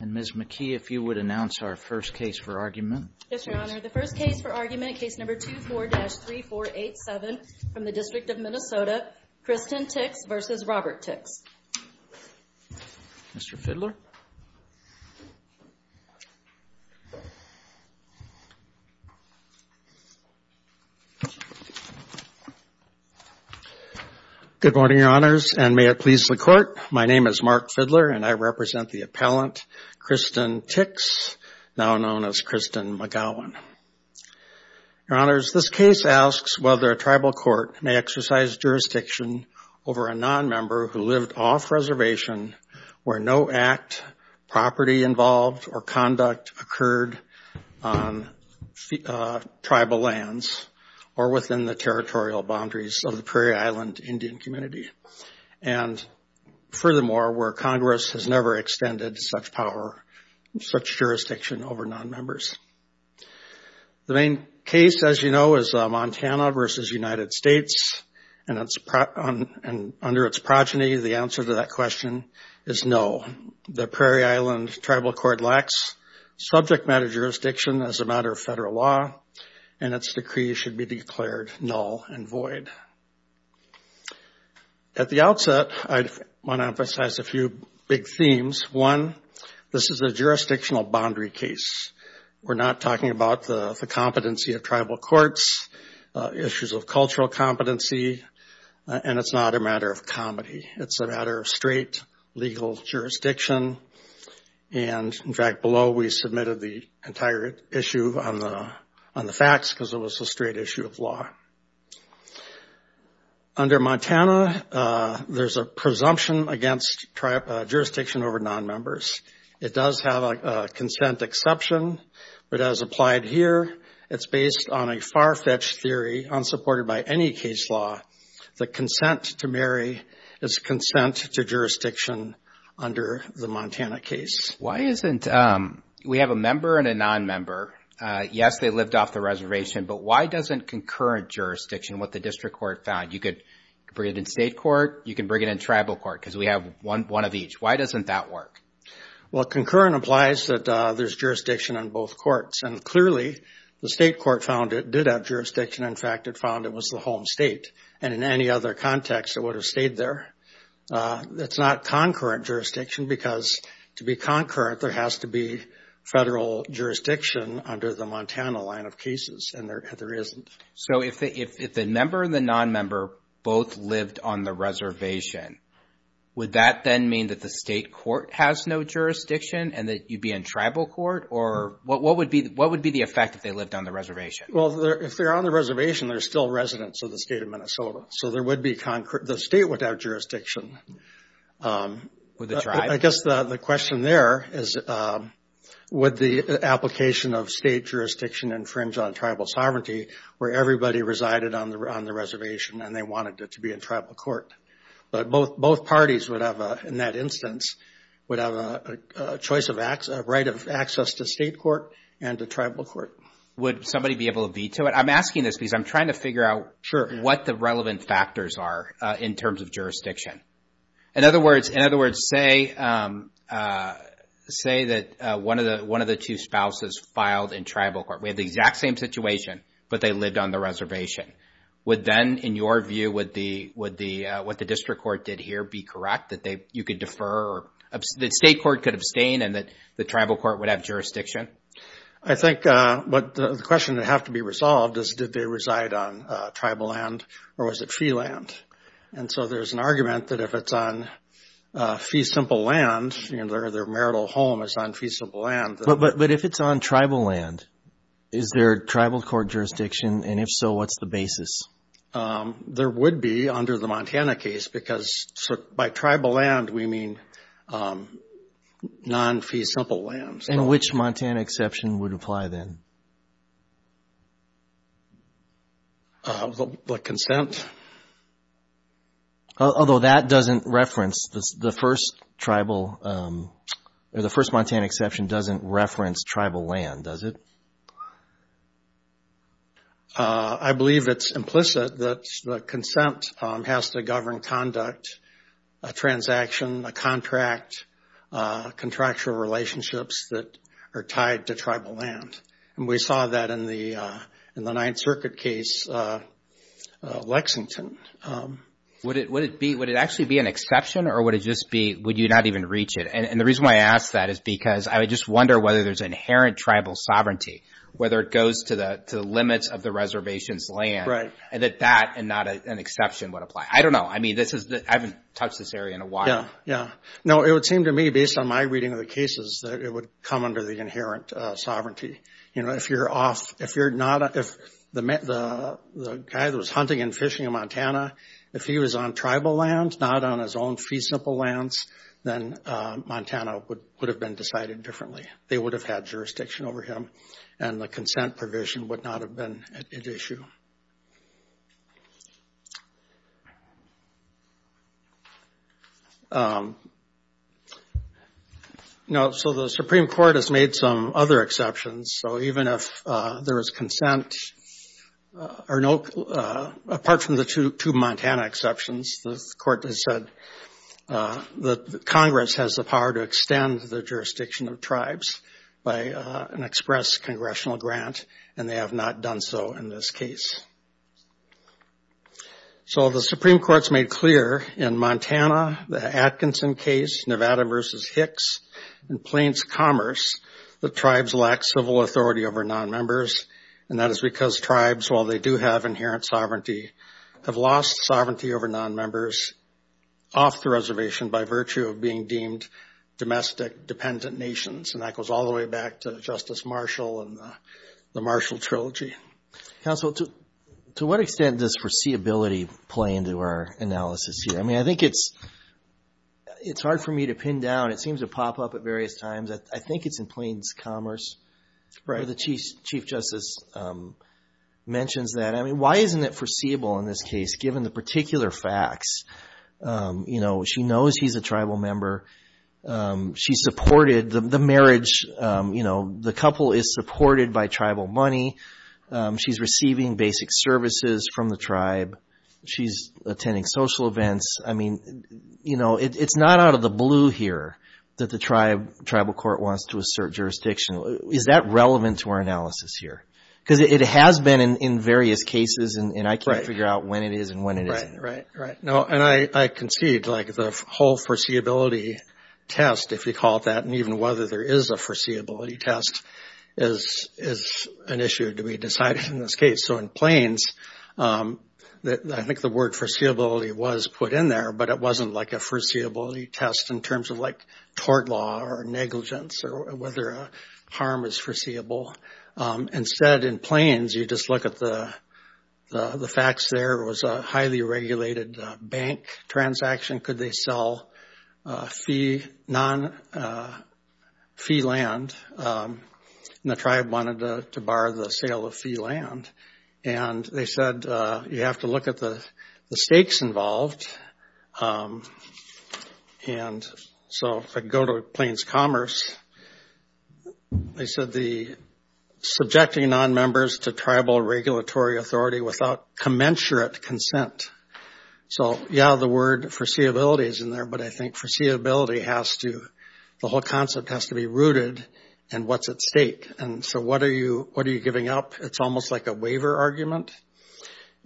And Ms. McKee, if you would announce our first case for argument. Yes, Your Honor. The first case for argument, case number 24-3487 from the District of Minnesota, Kristen Tix v. Robert Tix. Mr. Fidler. Good morning, Your Honors, and may it please the Court. My name is Mark Fidler, and I represent the appellant, Kristen Tix, now known as Kristen McGowan. Your Honors, this case asks whether a tribal court may exercise jurisdiction over a nonmember who lived off-reservation where no act, property involved, or conduct occurred on tribal lands or within the territorial boundaries of the Prairie Island Indian community, and furthermore, where Congress has never extended such jurisdiction over nonmembers. The main case, as you know, is Montana v. United States, and under its progeny, the answer to that question is no. The Prairie Island Tribal Court lacks subject matter jurisdiction as a matter of federal law, and its decree should be declared null and void. At the outset, I want to emphasize a few big themes. One, this is a jurisdictional boundary case. We're not talking about the competency of tribal courts, issues of cultural competency, and it's not a matter of comedy. It's a matter of straight legal jurisdiction, and in fact, under Montana, there's a presumption against jurisdiction over nonmembers. It does have a consent exception, but as applied here, it's based on a far-fetched theory unsupported by any case law. The consent to marry is consent to jurisdiction under the Montana case. Why isn't, we have a member and a nonmember. Yes, they lived off the reservation, but why doesn't concurrent jurisdiction, what the district court found, you could bring it in state court, you can bring it in tribal court, because we have one of each. Why doesn't that work? Well, concurrent implies that there's jurisdiction on both courts, and clearly, the state court found it did have jurisdiction. In fact, it found it was the home state, and in any other context, it would have stayed there. It's not concurrent jurisdiction, because to be concurrent, there has to be federal jurisdiction under the Montana line of cases, and there isn't. So if the member and the nonmember both lived on the reservation, would that then mean that the state court has no jurisdiction, and that you'd be in tribal court, or what would be the effect if they lived on the reservation? Well, if they're on the reservation, they're still residents of the state of Minnesota, so there would be, the state would have jurisdiction. Would the tribe? I guess the question there is, would the application of state jurisdiction infringe on tribal sovereignty where everybody resided on the reservation, and they wanted it to be in tribal court? But both parties would have, in that instance, would have a right of access to state court and to tribal court. Would somebody be able to veto it? I'm asking this because I'm trying to figure out what the relevant factors are in terms of jurisdiction. In other words, say that one of the two spouses filed in tribal court. We have the exact same situation, but they lived on the reservation. Would then, in your view, would what the district court did here be correct, that you could defer or that state court could abstain and that the tribal court would have jurisdiction? I think the question that would have to be resolved is, did they reside on tribal land or was it fee land? And so there's an argument that if it's on fee simple land, their marital home is on fee simple land. But if it's on tribal land, is there tribal court jurisdiction? And if so, what's the There would be under the Montana case because by tribal land, we mean non-fee simple land. And which Montana exception would apply then? The consent. The consent. Although that doesn't reference the first tribal, the first Montana exception doesn't reference tribal land, does it? I believe it's implicit that the consent has to govern conduct, a transaction, a contract, contractual relationships that are tied to tribal land. And we saw that in the Ninth Amendment in Lexington. Would it actually be an exception or would you not even reach it? And the reason why I ask that is because I just wonder whether there's inherent tribal sovereignty, whether it goes to the limits of the reservation's land and that that and not an exception would apply. I don't know. I haven't touched this area in a while. Yeah. No, it would seem to me, based on my reading of the cases, that it would come under the inherent sovereignty. You know, if you're off, if you're not, if the guy that was hunting and fishing in Montana, if he was on tribal land, not on his own fee simple lands, then Montana would have been decided differently. They would have had jurisdiction over him and the consent provision would not have been at issue. Now, so the Supreme Court has made some other exceptions. So even if there is consent, apart from the two Montana exceptions, the Court has said that Congress has the power to extend the jurisdiction of tribes by an express congressional grant, and they have not done so in this case. So the Supreme Court's made clear in Montana, the Atkinson case, Nevada versus Hicks, and Plains Commerce, that tribes lack civil authority over nonmembers, and that is because tribes, while they do have inherent sovereignty, have lost sovereignty over nonmembers off the reservation by virtue of being deemed domestic dependent nations. And that goes all the way back to Justice Marshall and the Marshall Trilogy. Counsel, to what extent does foreseeability play into our analysis here? I mean, I think it's hard for me to pin down. It seems to pop up at various times. I think it's in Plains Commerce. Right. Where the Chief Justice mentions that. I mean, why isn't it foreseeable in this case, given the particular facts? You know, she knows he's a tribal member. She supported the marriage, you know, the couple is supported by tribal money. She's receiving basic services from the tribe. She's attending social events. I mean, you know, it's not out of the blue here that the tribal court wants to assert jurisdiction. Is that relevant to our analysis here? Because it has been in various cases, and I can't figure out when it is and when it isn't. Right, right. No, and I concede, like, the whole foreseeability test, if you call it that, and even whether there is a foreseeability test is an issue to be decided in this case. So in Plains, I think the word foreseeability was put in there, but it wasn't like a foreseeability test in terms of, like, tort law or negligence or whether harm is foreseeable. Instead, in Plains, you just look at the facts there. It was a highly regulated bank transaction. Could they sell non-fee land? And the tribe wanted to bar the sale of fee land. And they said, you have to look at the stakes involved. And so if I go to Plains Commerce, they said the subjecting non-members to tribal regulatory authority without commensurate consent. So, yeah, the word foreseeability is in there, but I think foreseeability has to, the whole concept has to be rooted in what's at stake. And so what are you giving up? It's almost like a waiver argument.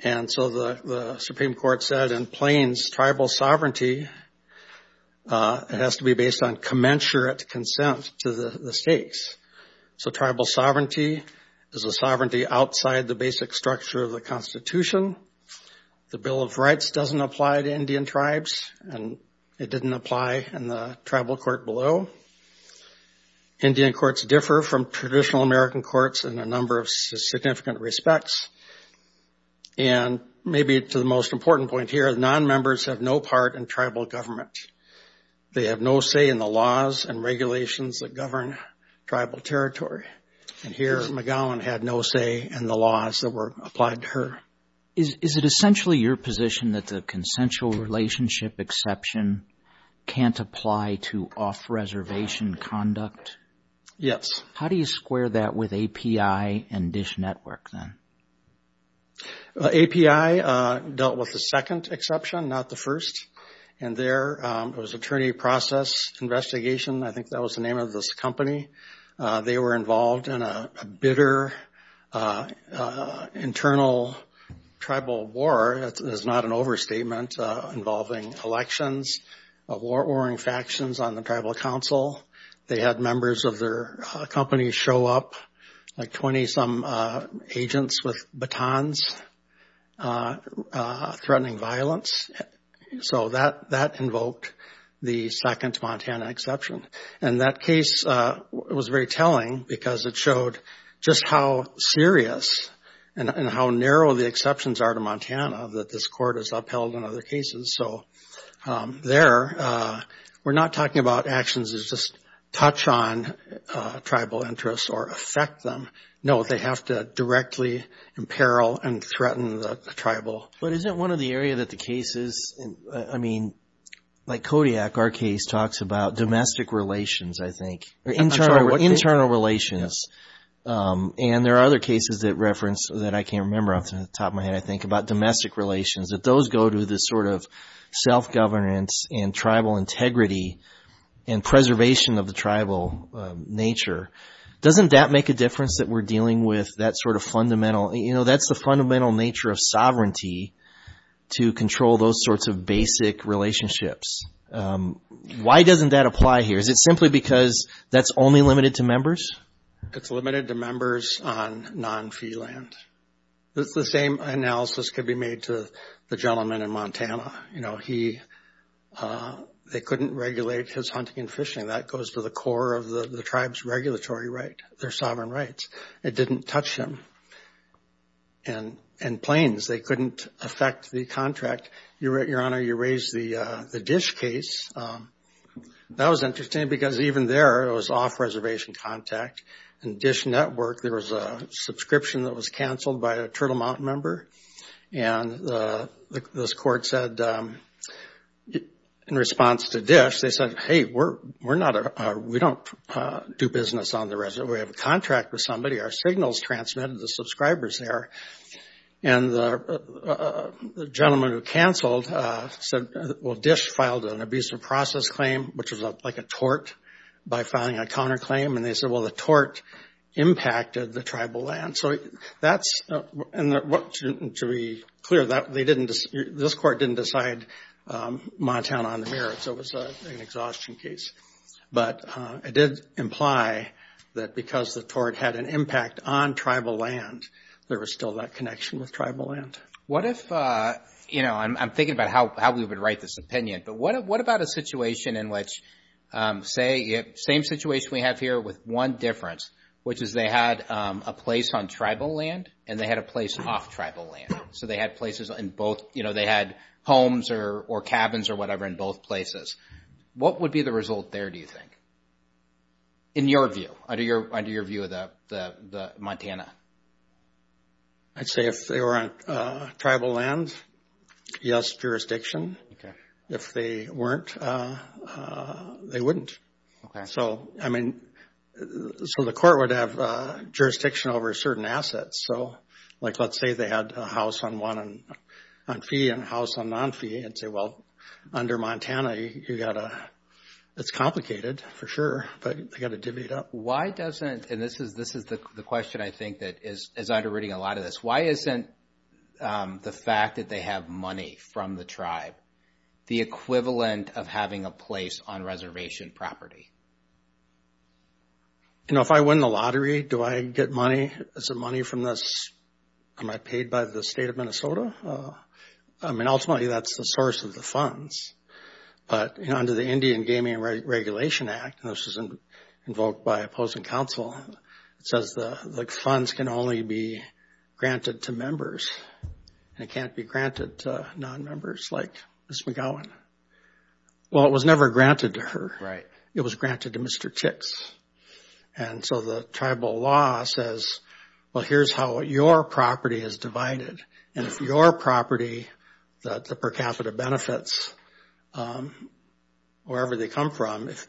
And so the Supreme Court said in Plains, tribal sovereignty has to be based on commensurate consent to the stakes. So tribal sovereignty is a sovereignty outside the basic structure of the Constitution. The Bill of Rights doesn't apply to Indian tribes, and it didn't apply in the tribal court below. Indian courts differ from traditional American courts in a number of significant respects. And maybe to the most important point here, non-members have no part in tribal government. They have no say in the laws and regulations that govern tribal territory. And here McGowan had no say in the laws that were applied to her. Is it essentially your position that the consensual relationship exception can't apply to off-reservation conduct? Yes. How do you square that with API and DISH Network then? API dealt with the second exception, not the first. And there was attorney process investigation, I think that was the name of this company. They were involved in a bitter internal tribal war, that is not an overstatement, involving elections of war-warring factions on the Tribal Council. They had members of their company show up, like 20-some agents with batons, threatening violence. So that invoked the second Montana exception. And that case was very telling because it showed just how serious and how narrow the exceptions are to Montana that this court has upheld in other cases. So there, we're not talking about actions that just touch on tribal interests or affect them. No, they have to directly imperil and affect the tribal. But isn't one of the areas that the cases, I mean, like Kodiak, our case talks about domestic relations, I think, or internal relations. And there are other cases that reference, that I can't remember off the top of my head, I think, about domestic relations, that those go to the sort of self-governance and tribal integrity and preservation of the tribal nature. Doesn't that make a difference that we're dealing with that sort of fundamental, you know, sovereignty to control those sorts of basic relationships? Why doesn't that apply here? Is it simply because that's only limited to members? It's limited to members on non-fee land. The same analysis could be made to the gentleman in Montana. You know, he, they couldn't regulate his hunting and fishing. That goes to the core of the tribe's regulatory right, their sovereign rights. It didn't touch him. And the claims, they couldn't affect the contract. Your Honor, you raised the Dish case. That was interesting because even there, it was off-reservation contact. In Dish Network, there was a subscription that was canceled by a Turtle Mountain member. And this court said, in response to Dish, they said, hey, we're not, we don't do business on the reservation. We have a contract with somebody. Our signals transmitted to subscribers there. And the gentleman who canceled said, well, Dish filed an abusive process claim, which was like a tort, by filing a counterclaim. And they said, well, the tort impacted the tribal land. So that's, and to be clear, that, they didn't, this court didn't decide Montana on the merits. It was an exhaustion case. But it did imply that because the tort had an impact on tribal land, there was still that connection with tribal land. What if, you know, I'm thinking about how we would write this opinion, but what about a situation in which, say, same situation we have here with one difference, which is they had a place on tribal land and they had a place off-tribal land. So they had places there, do you think, in your view, under your view of the Montana? I'd say if they were on tribal land, yes, jurisdiction. If they weren't, they wouldn't. So I mean, so the court would have jurisdiction over certain assets. So like, let's say they had a house on one, on fee, and a house on non-fee. I'd say, well, under Montana, you got to, it's complicated for sure, but you got to divvy it up. Why doesn't, and this is the question I think that is underwriting a lot of this, why isn't the fact that they have money from the tribe the equivalent of having a place on reservation property? You know, if I win the lottery, do I get money? Is the money from this, am I paid by the state of Minnesota? I mean, ultimately, that's the source of the funds. But under the Indian Gaming Regulation Act, and this was invoked by opposing counsel, it says the funds can only be granted to members, and it can't be granted to non-members like Ms. McGowan. Well, it was never granted to her. It was granted to Mr. Tix. And so the tribal law says, well, here's how your property is divided, and if your property, the per capita benefits, wherever they come from, if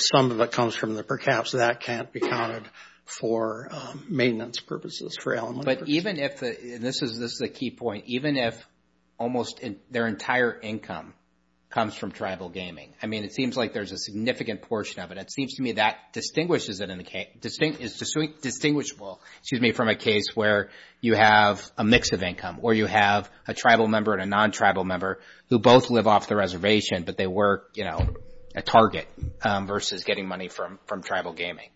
some of it comes from the per caps, that can't be counted for maintenance purposes for elementary. But even if, and this is a key point, even if almost their entire income comes from tribal gaming, I mean, it seems like there's a significant portion of it. It seems to me that distinguishes it in the case, is distinguishable, excuse me, from a case where you have a mix of income, or you have a tribal member and a non-tribal member who both live off the reservation, but they were, you know, a target versus getting money from tribal gaming.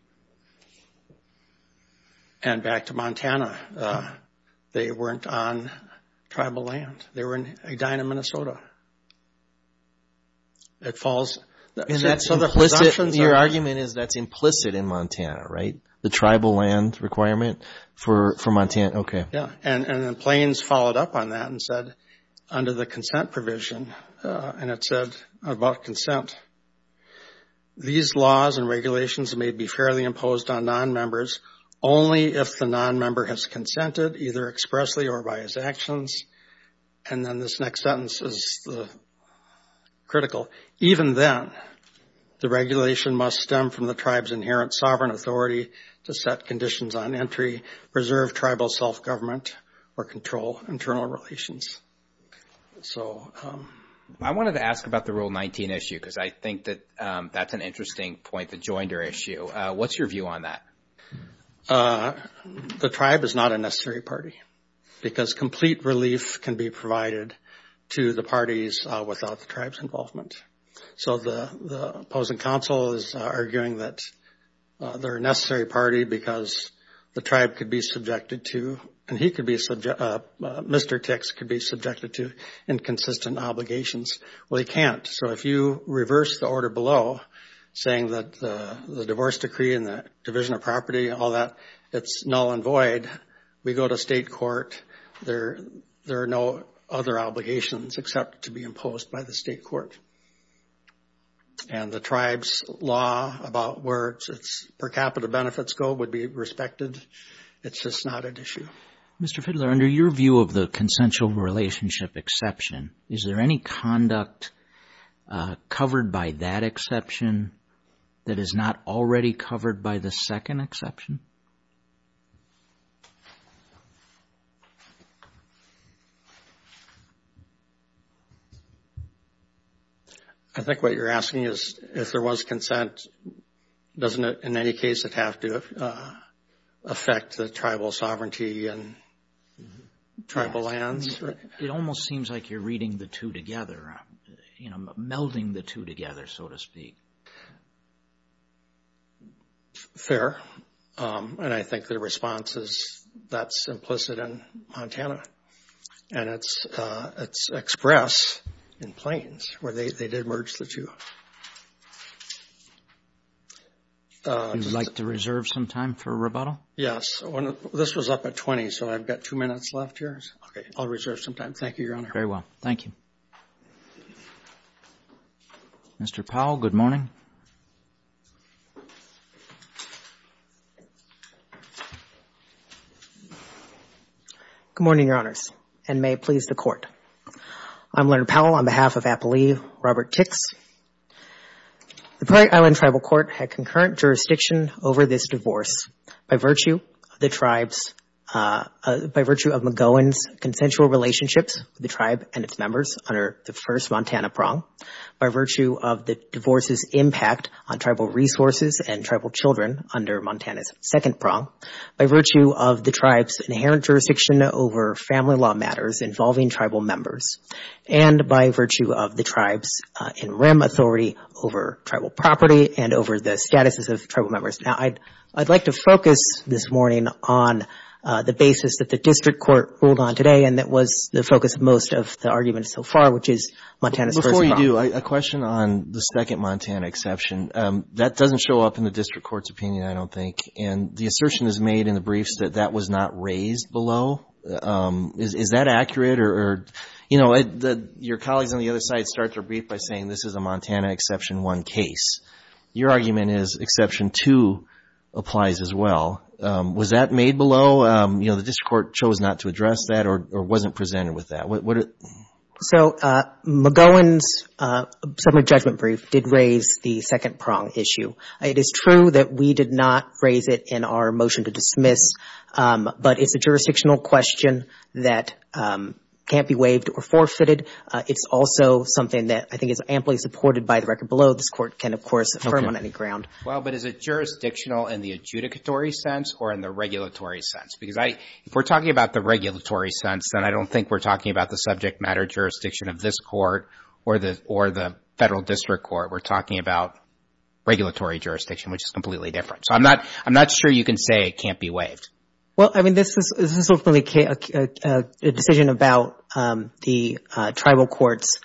And back to Montana, they weren't on tribal land. They were in Edina, Minnesota. It falls in that, so the presumption, your argument is that's implicit in Montana, right? The tribal land requirement for Montana, okay. Yeah, and the Plains followed up on that and said, under the consent provision, and it said about consent, these laws and regulations may be fairly imposed on non-members only if the non-member has consented, either expressly or by his actions. And then this next sentence is critical. Even then, the regulation must stem from the tribe's inherent sovereign authority to set conditions on entry, preserve tribal self-government, or control internal relations. I wanted to ask about the Rule 19 issue, because I think that that's an interesting point, the joinder issue. What's your view on that? The tribe is not a necessary party, because complete relief can be provided to the parties without the tribe's involvement. So the opposing council is arguing that they're a necessary party because the tribe could be subjected to, and he could be, Mr. Tix could be subjected to inconsistent obligations. Well, he can't. So if you reverse the order below, saying that the divorce decree and the division of property and all that, it's null and void, we go to state court, there are no other obligations except to be imposed by the state court. And the tribe's law about where its per capita benefits go would be respected. It's just not an issue. Mr. Fidler, under your view of the consensual relationship exception, is there any conduct covered by that exception that is not already covered by the second exception? I think what you're asking is, if there was consent, doesn't it in any case have to affect the tribal sovereignty and tribal lands? It almost seems like you're reading the two together, you know, melding the two together, so to speak. Fair. And I think the response is that's implicit in Montana. And it's express in Plains, where they did merge the two. Would you like to reserve some time for rebuttal? Yes. This was up at 20, so I've got two minutes left here. I'll reserve some time. Thank you, Your Honor. Very well. Thank you. Mr. Powell, good morning. Good morning, Your Honors, and may it please the Court. I'm Leonard Powell on behalf of Appalooie, Robert Tix. The Prairie Island Tribal Court had concurrent jurisdiction over this divorce by virtue of McGowan's consensual relationships with the tribe and its members under the first Montana prong, by virtue of the divorce's impact on tribal resources and tribal children under Montana's second prong, by virtue of the tribe's inherent jurisdiction over family law matters involving tribal members, and by virtue of the tribe's in rem authority over tribal property and over the statuses of tribal members. Now, I'd like to focus this morning on the basis that the district court ruled on today and that was the focus of most of the arguments so far, which is Montana's first prong. Before you do, a question on the second Montana exception. That doesn't show up in the district court's opinion, I don't think. And the assertion is made in the briefs that that was not raised below. Is that accurate? Or, you know, your colleagues on the other side start their brief by saying this is a Montana exception 1 case. Your argument is exception 2 applies as well. Was that made below? You know, the district court chose not to address that or wasn't presented with that. So McGowan's settlement judgment brief did raise the second prong issue. It is true that we did not raise it in our motion to dismiss, but it's a jurisdictional question that can't be waived or forfeited. It's also something that I think is amply supported by the record below. This court can, of course, affirm on any ground. Well, but is it jurisdictional in the adjudicatory sense or in the regulatory sense? Because if we're talking about the regulatory sense, then I don't think we're talking about the subject matter jurisdiction of this court or the federal district court. We're talking about regulatory jurisdiction, which is completely different. So I'm not sure you can say it can't be waived. Well, I mean, this is a decision about the tribal court's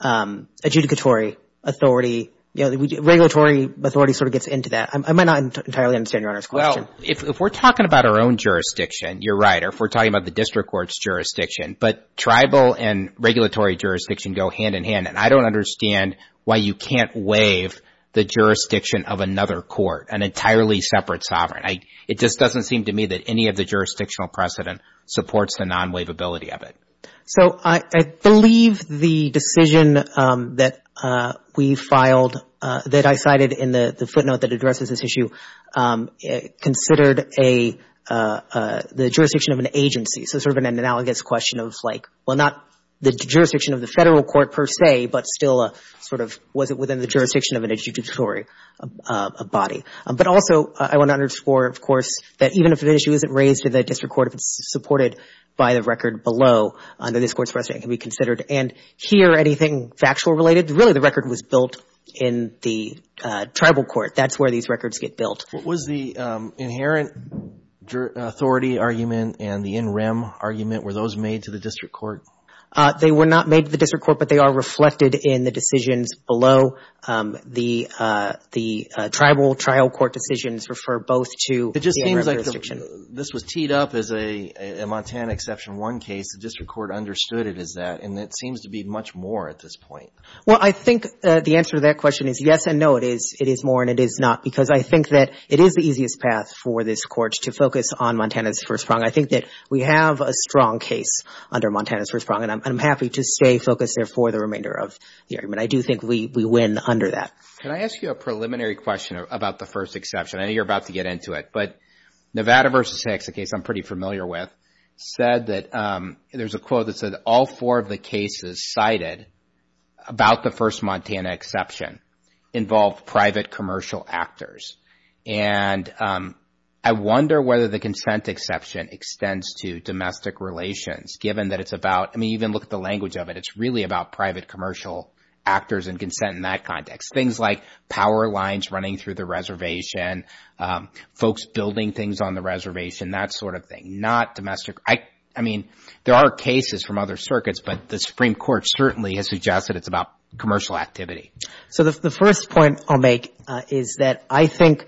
adjudicatory authority. Regulatory authority sort of gets into that. I might not entirely understand Your Honor's question. Well, if we're talking about our own jurisdiction, you're right. If we're talking about the district court's jurisdiction, but tribal and regulatory jurisdiction go hand in hand, and I don't understand why you can't waive the jurisdiction of another court, an entirely separate sovereign. It just doesn't seem to me that any of the jurisdictional precedent supports the non-waivability of it. So I believe the decision that we filed, that I cited in the footnote that addresses this issue, considered the jurisdiction of an agency. So sort of an analogous question of like, well, not the jurisdiction of the federal court per se, but still sort of was it within the jurisdiction of an adjudicatory body. But also, I want to underscore, of course, that even if an issue isn't raised to the district court, if it's supported by the record below under this Court's precedent, it can be considered. And here, anything factual related, really the record was built in the tribal court. That's where these records get What was the inherent authority argument and the in rem argument? Were those made to the district court? They were not made to the district court, but they are reflected in the decisions below. The tribal trial court decisions refer both to the in rem jurisdiction. It just seems like this was teed up as a Montana Exception 1 case. The district court understood it as that. And it seems to be much more at this point. Well, I think the answer to that question is yes and no. It is more and it is not. Because I think that it is the easiest path for this Court to focus on Montana's first prong. I think that we have a strong case under Montana's first prong. And I'm happy to stay focused there for the remainder of the argument. I do think we win under that. Can I ask you a preliminary question about the first exception? I know you're about to get into it. But Nevada v. Hicks, a case I'm pretty familiar with, said that, there's a quote that said, all four of the cases cited about the first Montana exception involved private commercial actors. And I wonder whether the consent exception extends to domestic relations given that it's about, I mean, even look at the language of it. It's really about private commercial actors and consent in that context. Things like power lines running through the reservation, folks building things on the reservation, that sort of thing. Not domestic. I mean, there are cases from other circuits, but the Supreme Court certainly has suggested it's about commercial activity. So the first point I'll make is that I think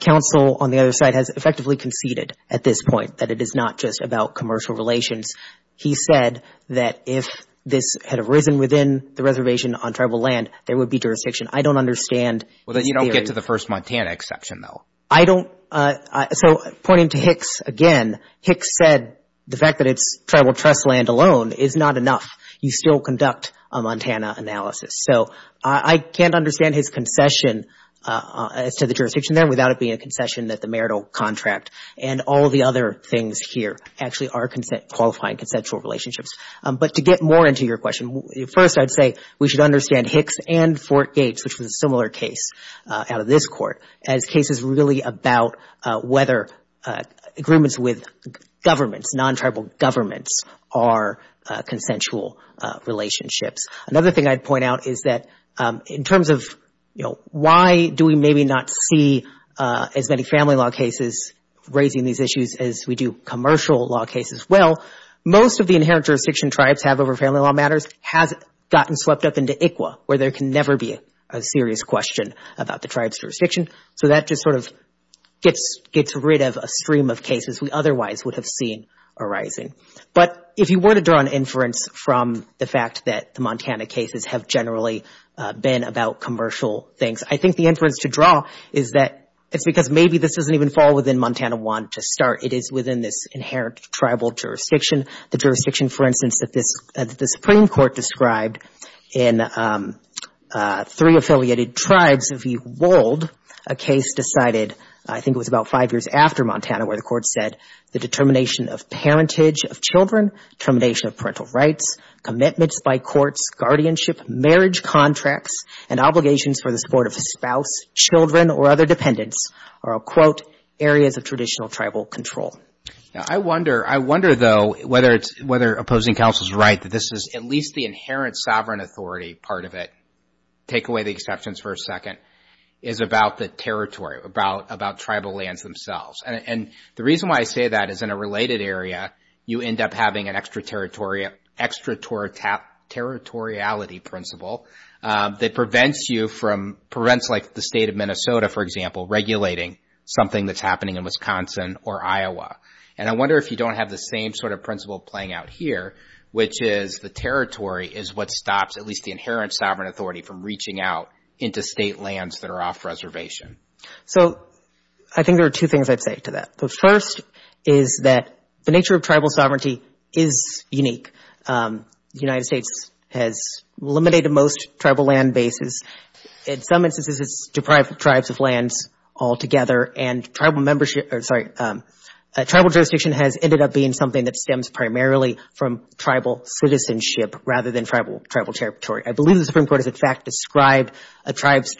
counsel on the other side has effectively conceded at this point that it is not just about commercial relations. He said that if this had arisen within the reservation on tribal land, there would be jurisdiction. I don't understand the area. Well, you don't get to the first Montana exception, though. I don't. So pointing to Hicks again, Hicks said the fact that it's tribal trust land alone is not enough. You still conduct a Montana analysis. So I can't understand his concession as to the jurisdiction there without it being a concession that the marital contract and all the other things here actually are qualifying consensual relationships. But to get more into your question, first I'd say we should understand Hicks and Fort Gates, which was a similar case out of this Court, as cases really about whether agreements with governments, non-tribal governments, are consensual relationships. Another thing I'd point out is that in terms of why do we maybe not see as many family law cases raising these issues as we do commercial law cases? Well, most of the inherent jurisdiction tribes have over family law matters has gotten swept up into ICWA, where there can never be a serious question about the tribe's jurisdiction. So that just sort of gets rid of a stream of cases we otherwise would have seen arising. But if you were to draw an inference from the fact that the Montana cases have generally been about commercial things, I think the inference to draw is that it's because maybe this doesn't even fall within Montana 1 to start. It is within this inherent tribal jurisdiction. The jurisdiction, for instance, that the Supreme Court described in Three Affiliated Tribes v. Wold, a case decided, I think it was about five years after Montana, where the Court said the determination of parentage of children, termination of parental rights, commitments by courts, guardianship, marriage contracts, and obligations for the support of a spouse, children, or other dependents are, I'll quote, areas of traditional tribal control. I wonder, though, whether opposing counsel's right that this is at least the inherent sovereign authority part of it, take away the exceptions for a second, is about the territory, about tribal lands themselves. And the reason why I say that is in a related area, you end up having an extraterritoriality principle that prevents you from, prevents like the state of Minnesota, for example, regulating something that's happening in Wisconsin or Iowa. And I wonder if you don't have the same sort of principle playing out here, which is the territory is what stops at least the inherent sovereign authority from reaching out into state lands that are off reservation. So I think there are two things I'd say to that. The first is that the nature of tribal sovereignty is unique. The United States has eliminated most tribal land bases. In some instances, it's deprived tribes of lands altogether. And tribal membership, or sorry, tribal jurisdiction has ended up being something that stems primarily from tribal citizenship rather than tribal territory. I believe the Supreme Court has, in fact, described a tribe's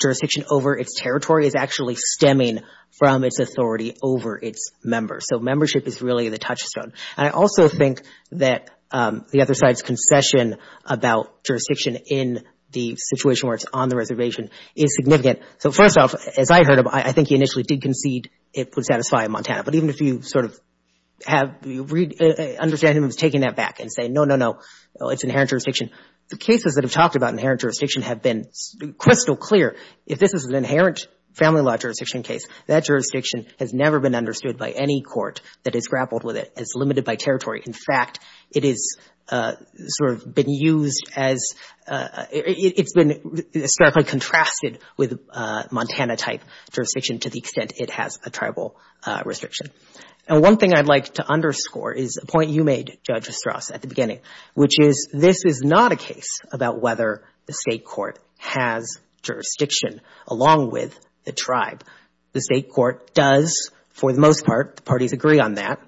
jurisdiction over its territory as actually stemming from its authority over its members. So membership is really the touchstone. And I also think that the other side's concession about jurisdiction in the situation where it's on the reservation is significant. So first off, as I heard him, I think he initially did concede it would satisfy Montana. But even if you sort of have, understand him as taking that back and saying, no, no, no, it's inherent jurisdiction, the cases that have talked about inherent jurisdiction have been crystal clear. If this is an inherent family law jurisdiction case, that jurisdiction has never been understood by any court that has grappled with it. It's limited by territory. In fact, it is sort of been used as, it's been historically contrasted with Montana-type jurisdiction to the extent it has a tribal restriction. And one thing I'd like to underscore is a point you made, Judge Estras, at the beginning, which is this is not a case about whether the State court has jurisdiction along with the tribe. The State court does, for the most part, the parties agree on that.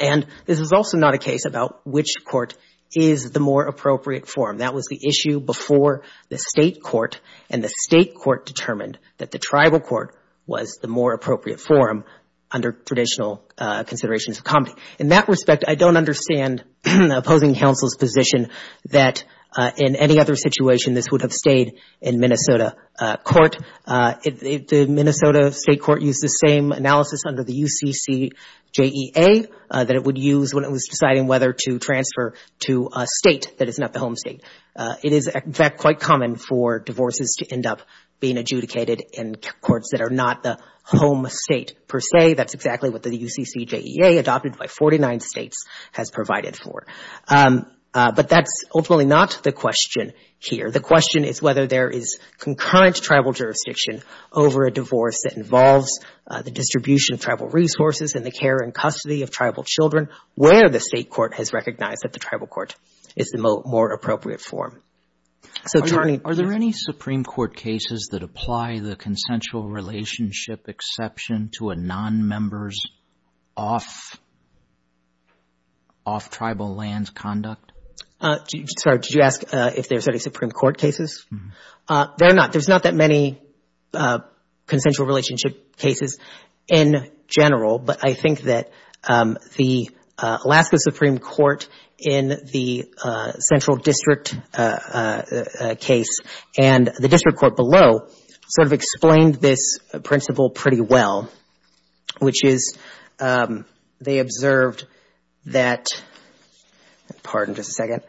And this is also not a case about which court is the more appropriate form. That was the issue before the State court, and the State court determined that the tribal court was the more appropriate form under traditional considerations of comedy. In that respect, I don't understand opposing counsel's position that in any other situation this would have stayed in Minnesota court. The Minnesota State court used the same analysis under the UCCJEA that it would use when it was deciding whether to transfer to a State that is not the home State. It is, in fact, quite common for divorces to end up being adjudicated in courts that are not the home State per se. That's exactly what the UCCJEA, adopted by 49 States, has provided for. But that's ultimately not the question here. The question is whether there is concurrent tribal jurisdiction over a divorce that involves the distribution of tribal resources and the care and custody of tribal children where the State court has recognized that the tribal court is the more appropriate form. So, Jordan, do you... Are there any Supreme Court cases that apply the consensual relationship exception to a non-member's off-tribal lands conduct? Sorry, did you ask if there's any Supreme Court cases? There are not. There's not that many consensual relationship cases in general, but I think that the Alaska Supreme Court in the Central District case and the District Court below sort of explained this principle pretty well, which is they observed that, pardon just a second,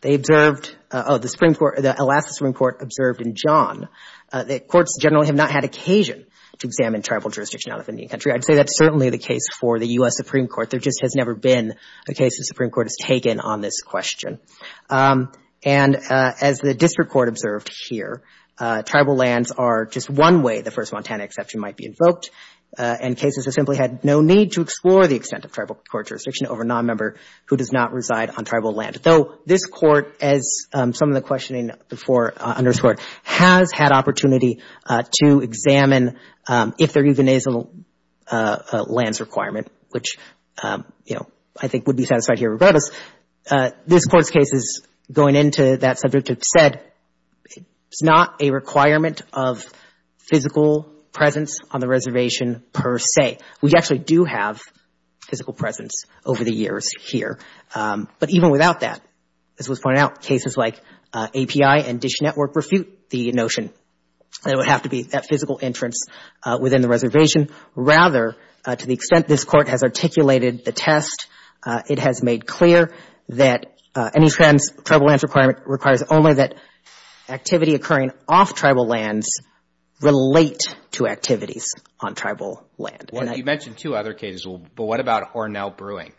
they observed, oh, the Supreme Court, the Alaska Supreme Court observed in John that courts generally have not had occasion to examine tribal jurisdiction out of Indian country. I'd say that's certainly the case for the U.S. Supreme Court. There just has never been a case the Supreme Court has taken on this question. And as the District Court observed here, tribal lands are just one way the first Montana exception might be invoked, and cases have simply had no need to explore the extent of tribal court jurisdiction over a non-member who does not reside on tribal land, though this Court, as some of the questioning before underscored, has had opportunity to examine if there even is a lands requirement, which, you know, I think would be satisfied here regardless. This Court's cases going into that subject have said it's not a requirement of physical presence on the reservation per se. We actually do have physical presence over the years here, but even without that, as was pointed out, cases like API and Dish Network refute the notion that it would have to be that physical entrance within the reservation. Rather, to the extent this Court has articulated the test, it has made clear that any tribal lands requirement requires only that activity occurring off tribal lands relate to activities on tribal land. Well, you mentioned two other cases. But what about Hornell Brewing?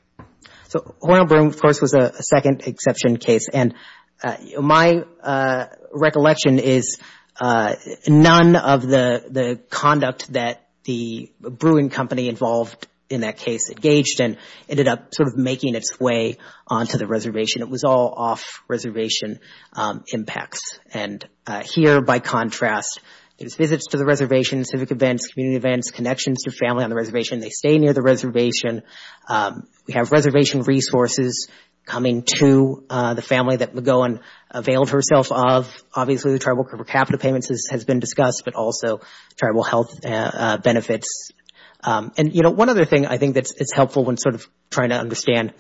So Hornell Brewing, of course, was a second exception case. And my recollection is none of the conduct that the brewing company involved in that case engaged in ended up sort of making its way onto the reservation. It was all off-reservation impacts. And here, by contrast, it was visits to the reservation, civic events, community events, connections to family on the reservation. They stay near the reservation. We have reservation resources coming to the family that McGowan availed herself of. Obviously, the tribal capital payments has been discussed, but also tribal health benefits. And one other thing I think that's helpful when sort of trying to understand,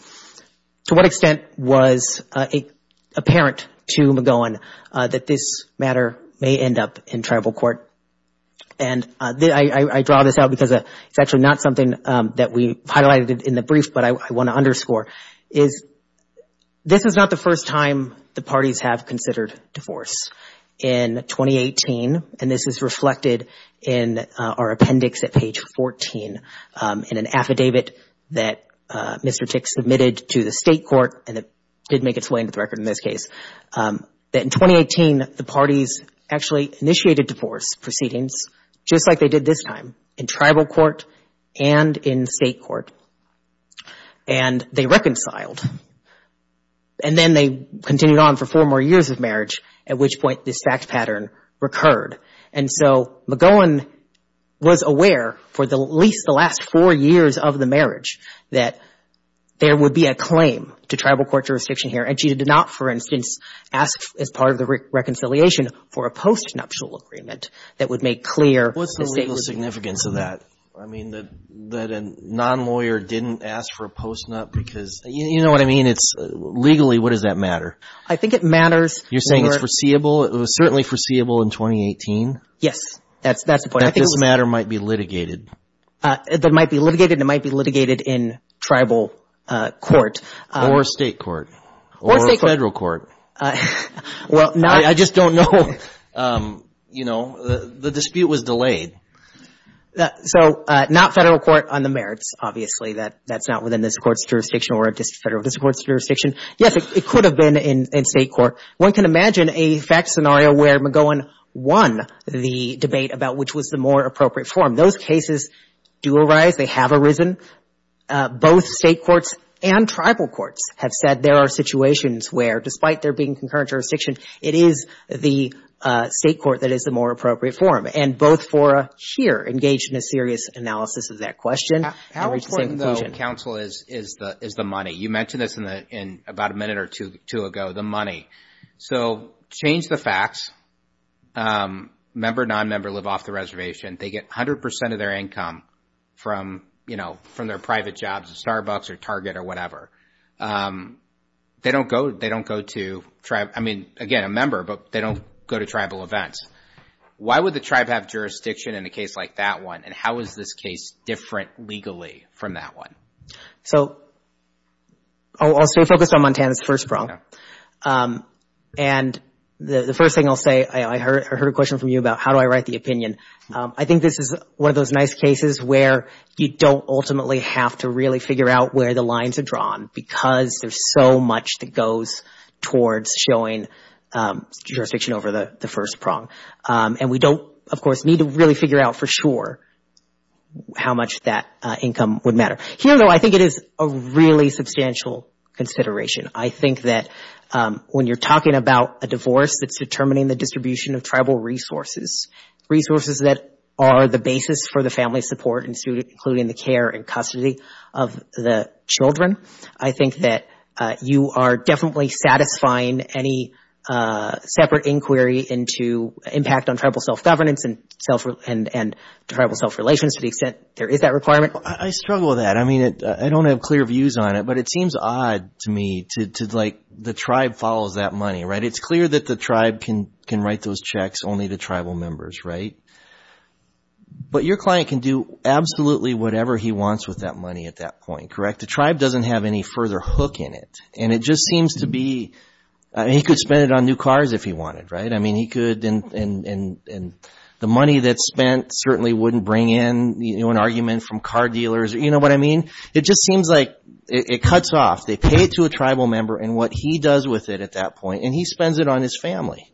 to what extent was it apparent to McGowan that this matter may end up in tribal court? And I draw this out because it's actually not something that we highlighted in the brief, but I want to underscore, is this is not the first time the parties have considered divorce. In 2018, and this is reflected in our appendix at page 14 in an affidavit that Mr. Tick submitted to the state court, and it did make its way into the record in this case, that in 2018, the parties actually initiated divorce proceedings, just like they did this time, in tribal court and in state court. And they reconciled. And then they continued on for four more years of marriage, at which point this fact pattern recurred. And so McGowan was aware for at least the last four years of the marriage that there would be a claim to tribal court jurisdiction here, and she did not, for instance, ask, as part of the reconciliation, for a postnuptial agreement that would make clear that the state would be... What's the legal significance of that? I mean, that a non-lawyer didn't ask for a postnup because... You know what I mean? It's legally, what does that matter? I think it matters... You're saying it's foreseeable? It was certainly foreseeable in 2018? Yes, that's the point. That this matter might be litigated? That it might be litigated, and it might be litigated in tribal court. Or state court? Or federal court? Well, not... I just don't know. You know, the dispute was delayed. So, not federal court on the merits, obviously. That's not within this Court's jurisdiction or a federal jurisdiction. Yes, it could have been in state court. One can imagine a fact scenario where McGowan won the debate about which was the more appropriate form. Those tribal courts have said there are situations where, despite there being concurrent jurisdiction, it is the state court that is the more appropriate form. And both fora here engaged in a serious analysis of that question and reached the same conclusion. How important, though, counsel is, is the money? You mentioned this in about a minute or two ago, the money. So, change the facts. Member, non-member live off the reservation. They get 100% of their income from, you know, from their private jobs at Starbucks or Target or whatever. They don't go to... I mean, again, a member, but they don't go to tribal events. Why would the tribe have jurisdiction in a case like that one? And how is this case different legally from that one? So, I'll stay focused on Montana's first brawl. And the first thing I'll say, I heard a question from you about how do I write the opinion. I think this is one of those nice cases where you don't ultimately have to really figure out where the lines are drawn because there's so much that goes towards showing jurisdiction over the first prong. And we don't, of course, need to really figure out for sure how much that income would matter. Here, though, I think it is a really substantial consideration. I think that when you're talking about a divorce that's determining the distribution of tribal resources, resources that are the basis for the family support, including the care and custody of the children, I think that you are definitely satisfying any separate inquiry into impact on tribal self-governance and tribal self-relations to the extent there is that requirement. I struggle with that. I mean, I don't have clear views on it, but it seems odd to me that the tribe follows that money. It's clear that the tribe can write those checks only to tribal members, right? But your client can do absolutely whatever he wants with that money at that point, correct? The tribe doesn't have any further hook in it. And it just seems to be, he could spend it on new cars if he wanted, right? And the money that's spent certainly wouldn't bring in an argument from car dealers, you know what I mean? It just seems like it cuts off. They pay it to a tribal member and what he does with it at that point, and he spends it on his family.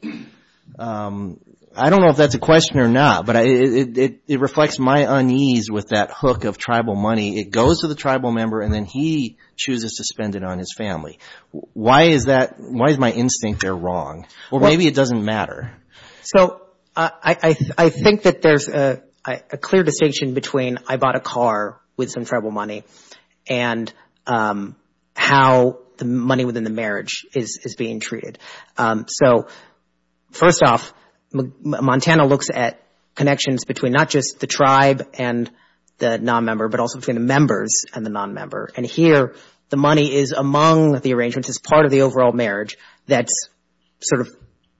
I don't know if that's a question or not, but it reflects my unease with that hook of tribal money. It goes to the tribal member and then he chooses to spend it on his family. Why is my instinct there wrong? Well, maybe it doesn't matter. So I think that there's a clear distinction between I bought a car with some tribal money and how the money within the marriage is being treated. So first off, Montana looks at connections between not just the tribe and the non-member, but also between the members and the non-member. And here, the money is among the arrangements as part of the overall marriage that's sort of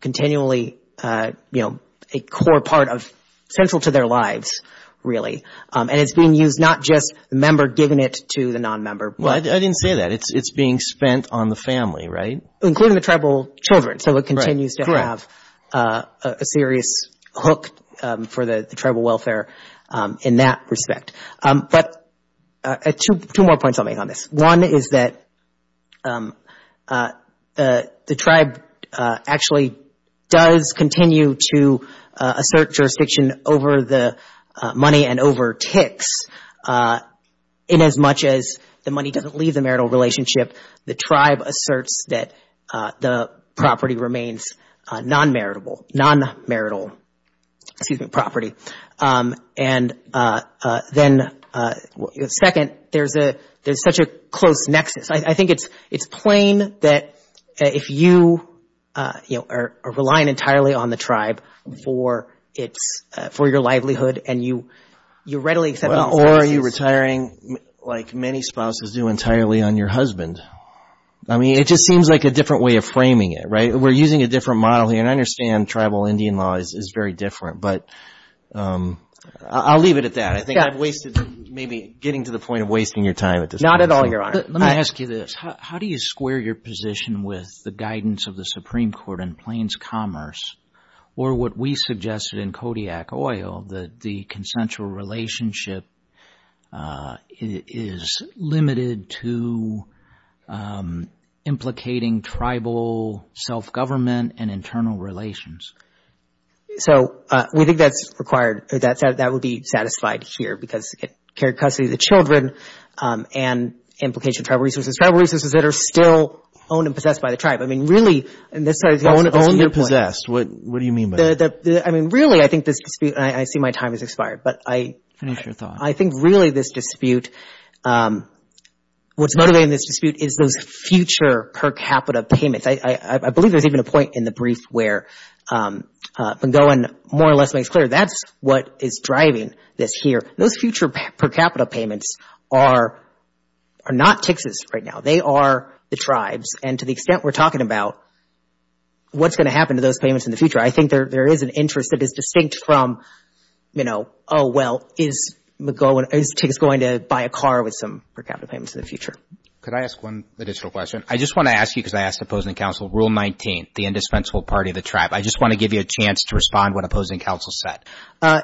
continually, you know, a core part of, central to their lives, really. And it's being used, not just the member giving it to the non-member. Well, I didn't say that. It's being spent on the family, right? Including the tribal children, so it continues to have a serious hook for the tribal welfare in that respect. But two more points I'll make on this. One is that the tribe actually does continue to assert jurisdiction over the money and over ticks. In as much as the money doesn't leave the marital relationship, the tribe asserts that the property remains non-maritable, non-marital, excuse me, property. And then second, there's such a close nexus. I think it's plain that if you are relying entirely on the tribe for your livelihood and you readily accept all spouses. Or are you retiring like many spouses do entirely on your husband? I mean, it just seems like a different way of framing it, right? We're using a different model here. And I understand tribal Indian law is very different. But I'll leave it at that. I think I've wasted, maybe getting to the point of wasting your time at this point. Not at all, Your Honor. Let me ask you this. How do you square your position with the guidance of the Supreme Court in Plains Commerce or what we suggested in Kodiak Oil, that the consensual relationship is limited to implicating tribal self-government and internal relations? So we think that's required. That would be satisfied here because it carried custody of the children and implication of tribal resources. Tribal resources that are still owned and possessed by the tribe. I mean, really, in this case, it's your point. Owned and possessed. What do you mean by that? I mean, really, I think this dispute, and I see my time has expired, but I think really this dispute, what's motivating this dispute is those future per capita payments. I believe there's even a point in the brief where Ben-Gohan more or less makes clear that's what is driving this here. Those future per capita payments are not TIX's right now. They are the tribe's and to the extent we're talking about what's going to happen to those payments in the future, I think there is an interest that is distinct from, you know, oh, well, is TIX going to buy a car with some per capita payments in the future? Could I ask one additional question? I just want to ask you because I asked the opposing counsel, Rule 19, the indispensable party of the tribe. I just want to give you a chance to respond to what opposing counsel said.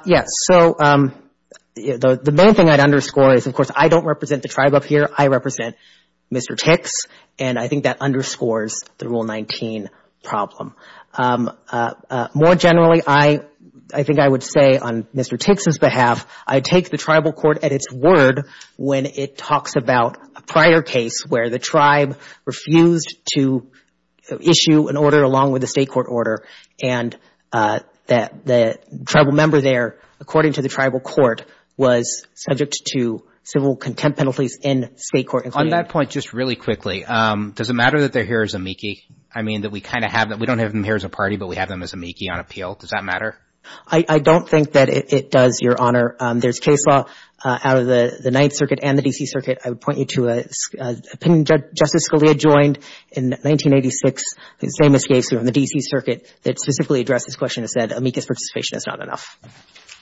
Yes. So, the main thing I'd underscore is, of course, I don't represent the tribe up here. I represent Mr. TIX, and I think that underscores the Rule 19 problem. More generally, I think I would say on Mr. TIX's behalf, I take the tribal court at its word when it talks about a prior case where the tribe refused to issue an order along with the state court order, and that the tribal member there, according to the tribal court, was subject to civil contempt penalties in state court. On that point, just really quickly, does it matter that they're here as amici? I mean, that we kind of have them. We don't have them here as a party, but we have them as amici on appeal. Does that matter? I don't think that it does, Your Honor. There's case law out of the Ninth Circuit and the D.C. Circuit. I would point you to an opinion Justice Scalia joined in 1986, the same as the Ninth Circuit, that specifically addressed this question and said amicus participation is not enough.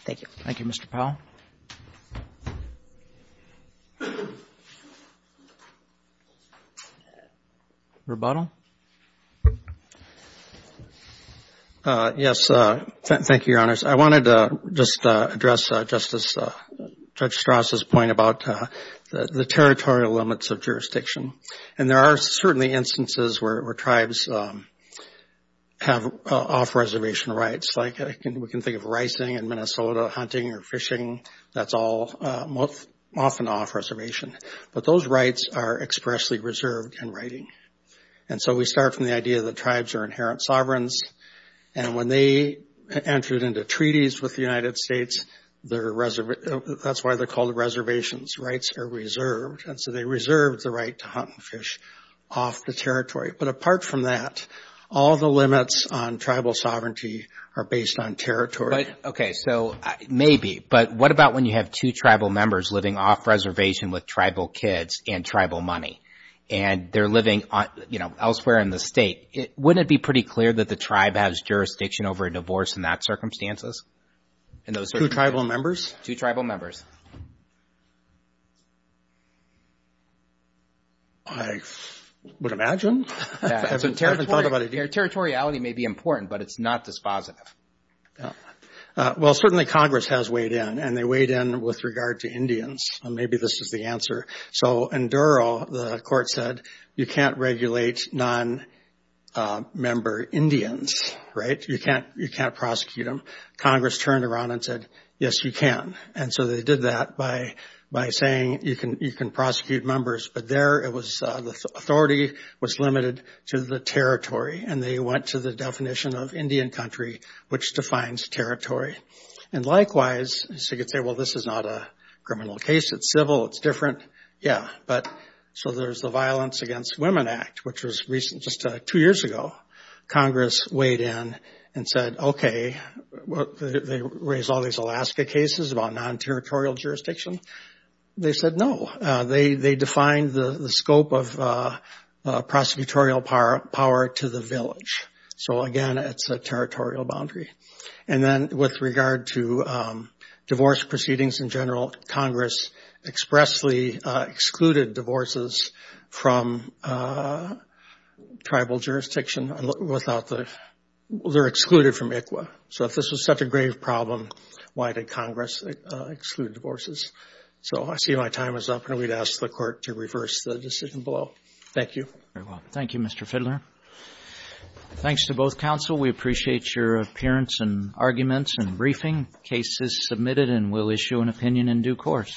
Thank you. Thank you, Mr. Powell. Rebuttal? Yes. Thank you, Your Honors. I wanted to just address Justice Strass's point about the territorial limits of jurisdiction. And there are certainly instances where tribes have off-reservation rights, like we can think of ricing in Minnesota, hunting or fishing, that's all often off-reservation. But those rights are expressly reserved in writing. And so we start from the idea that tribes are inherent sovereigns, and when they entered into treaties with the United States, that's why they're called reservations. Rights are reserved. And so they reserved the right to hunt and fish off the territory. But apart from that, all the limits on tribal sovereignty are based on territory. Okay. So maybe. But what about when you have two tribal members living off-reservation with tribal kids and tribal money? And they're living, you know, elsewhere in the state. Wouldn't it be pretty clear that the tribe has jurisdiction over a divorce in that circumstances? Two tribal members? Two tribal members. I would imagine. Territoriality may be important, but it's not dispositive. Well, certainly Congress has weighed in. And they weighed in with regard to Indians. And maybe this is the answer. So in Durrell, the court said, you can't regulate non-member Indians, right? You can't prosecute them. Congress turned around and said, yes, you can. And so they did that by saying you can prosecute members. But there, the authority was limited to the territory. And they went to the definition of Indian country, which defines territory. And likewise, you could say, well, this is not a criminal case. It's civil. It's different. Yeah, but so there's the Violence Against Women Act, which was recent, just two years ago. Congress weighed in and said, okay, they raised all these Alaska cases about non-territorial jurisdiction. They said no. They defined the scope of prosecutorial power to the village. So again, it's a territorial boundary. And then with regard to divorce proceedings in general, Congress expressly excluded divorces from tribal jurisdiction without the they're excluded from ICWA. So if this was such a grave problem, why did Congress exclude divorces? So I see my time is up. And we'd ask the court to reverse the decision below. Thank you. Thank you, Mr. Fidler. Thanks to both counsel. We appreciate your appearance and arguments and briefing. Case is submitted and we'll issue an opinion in due course.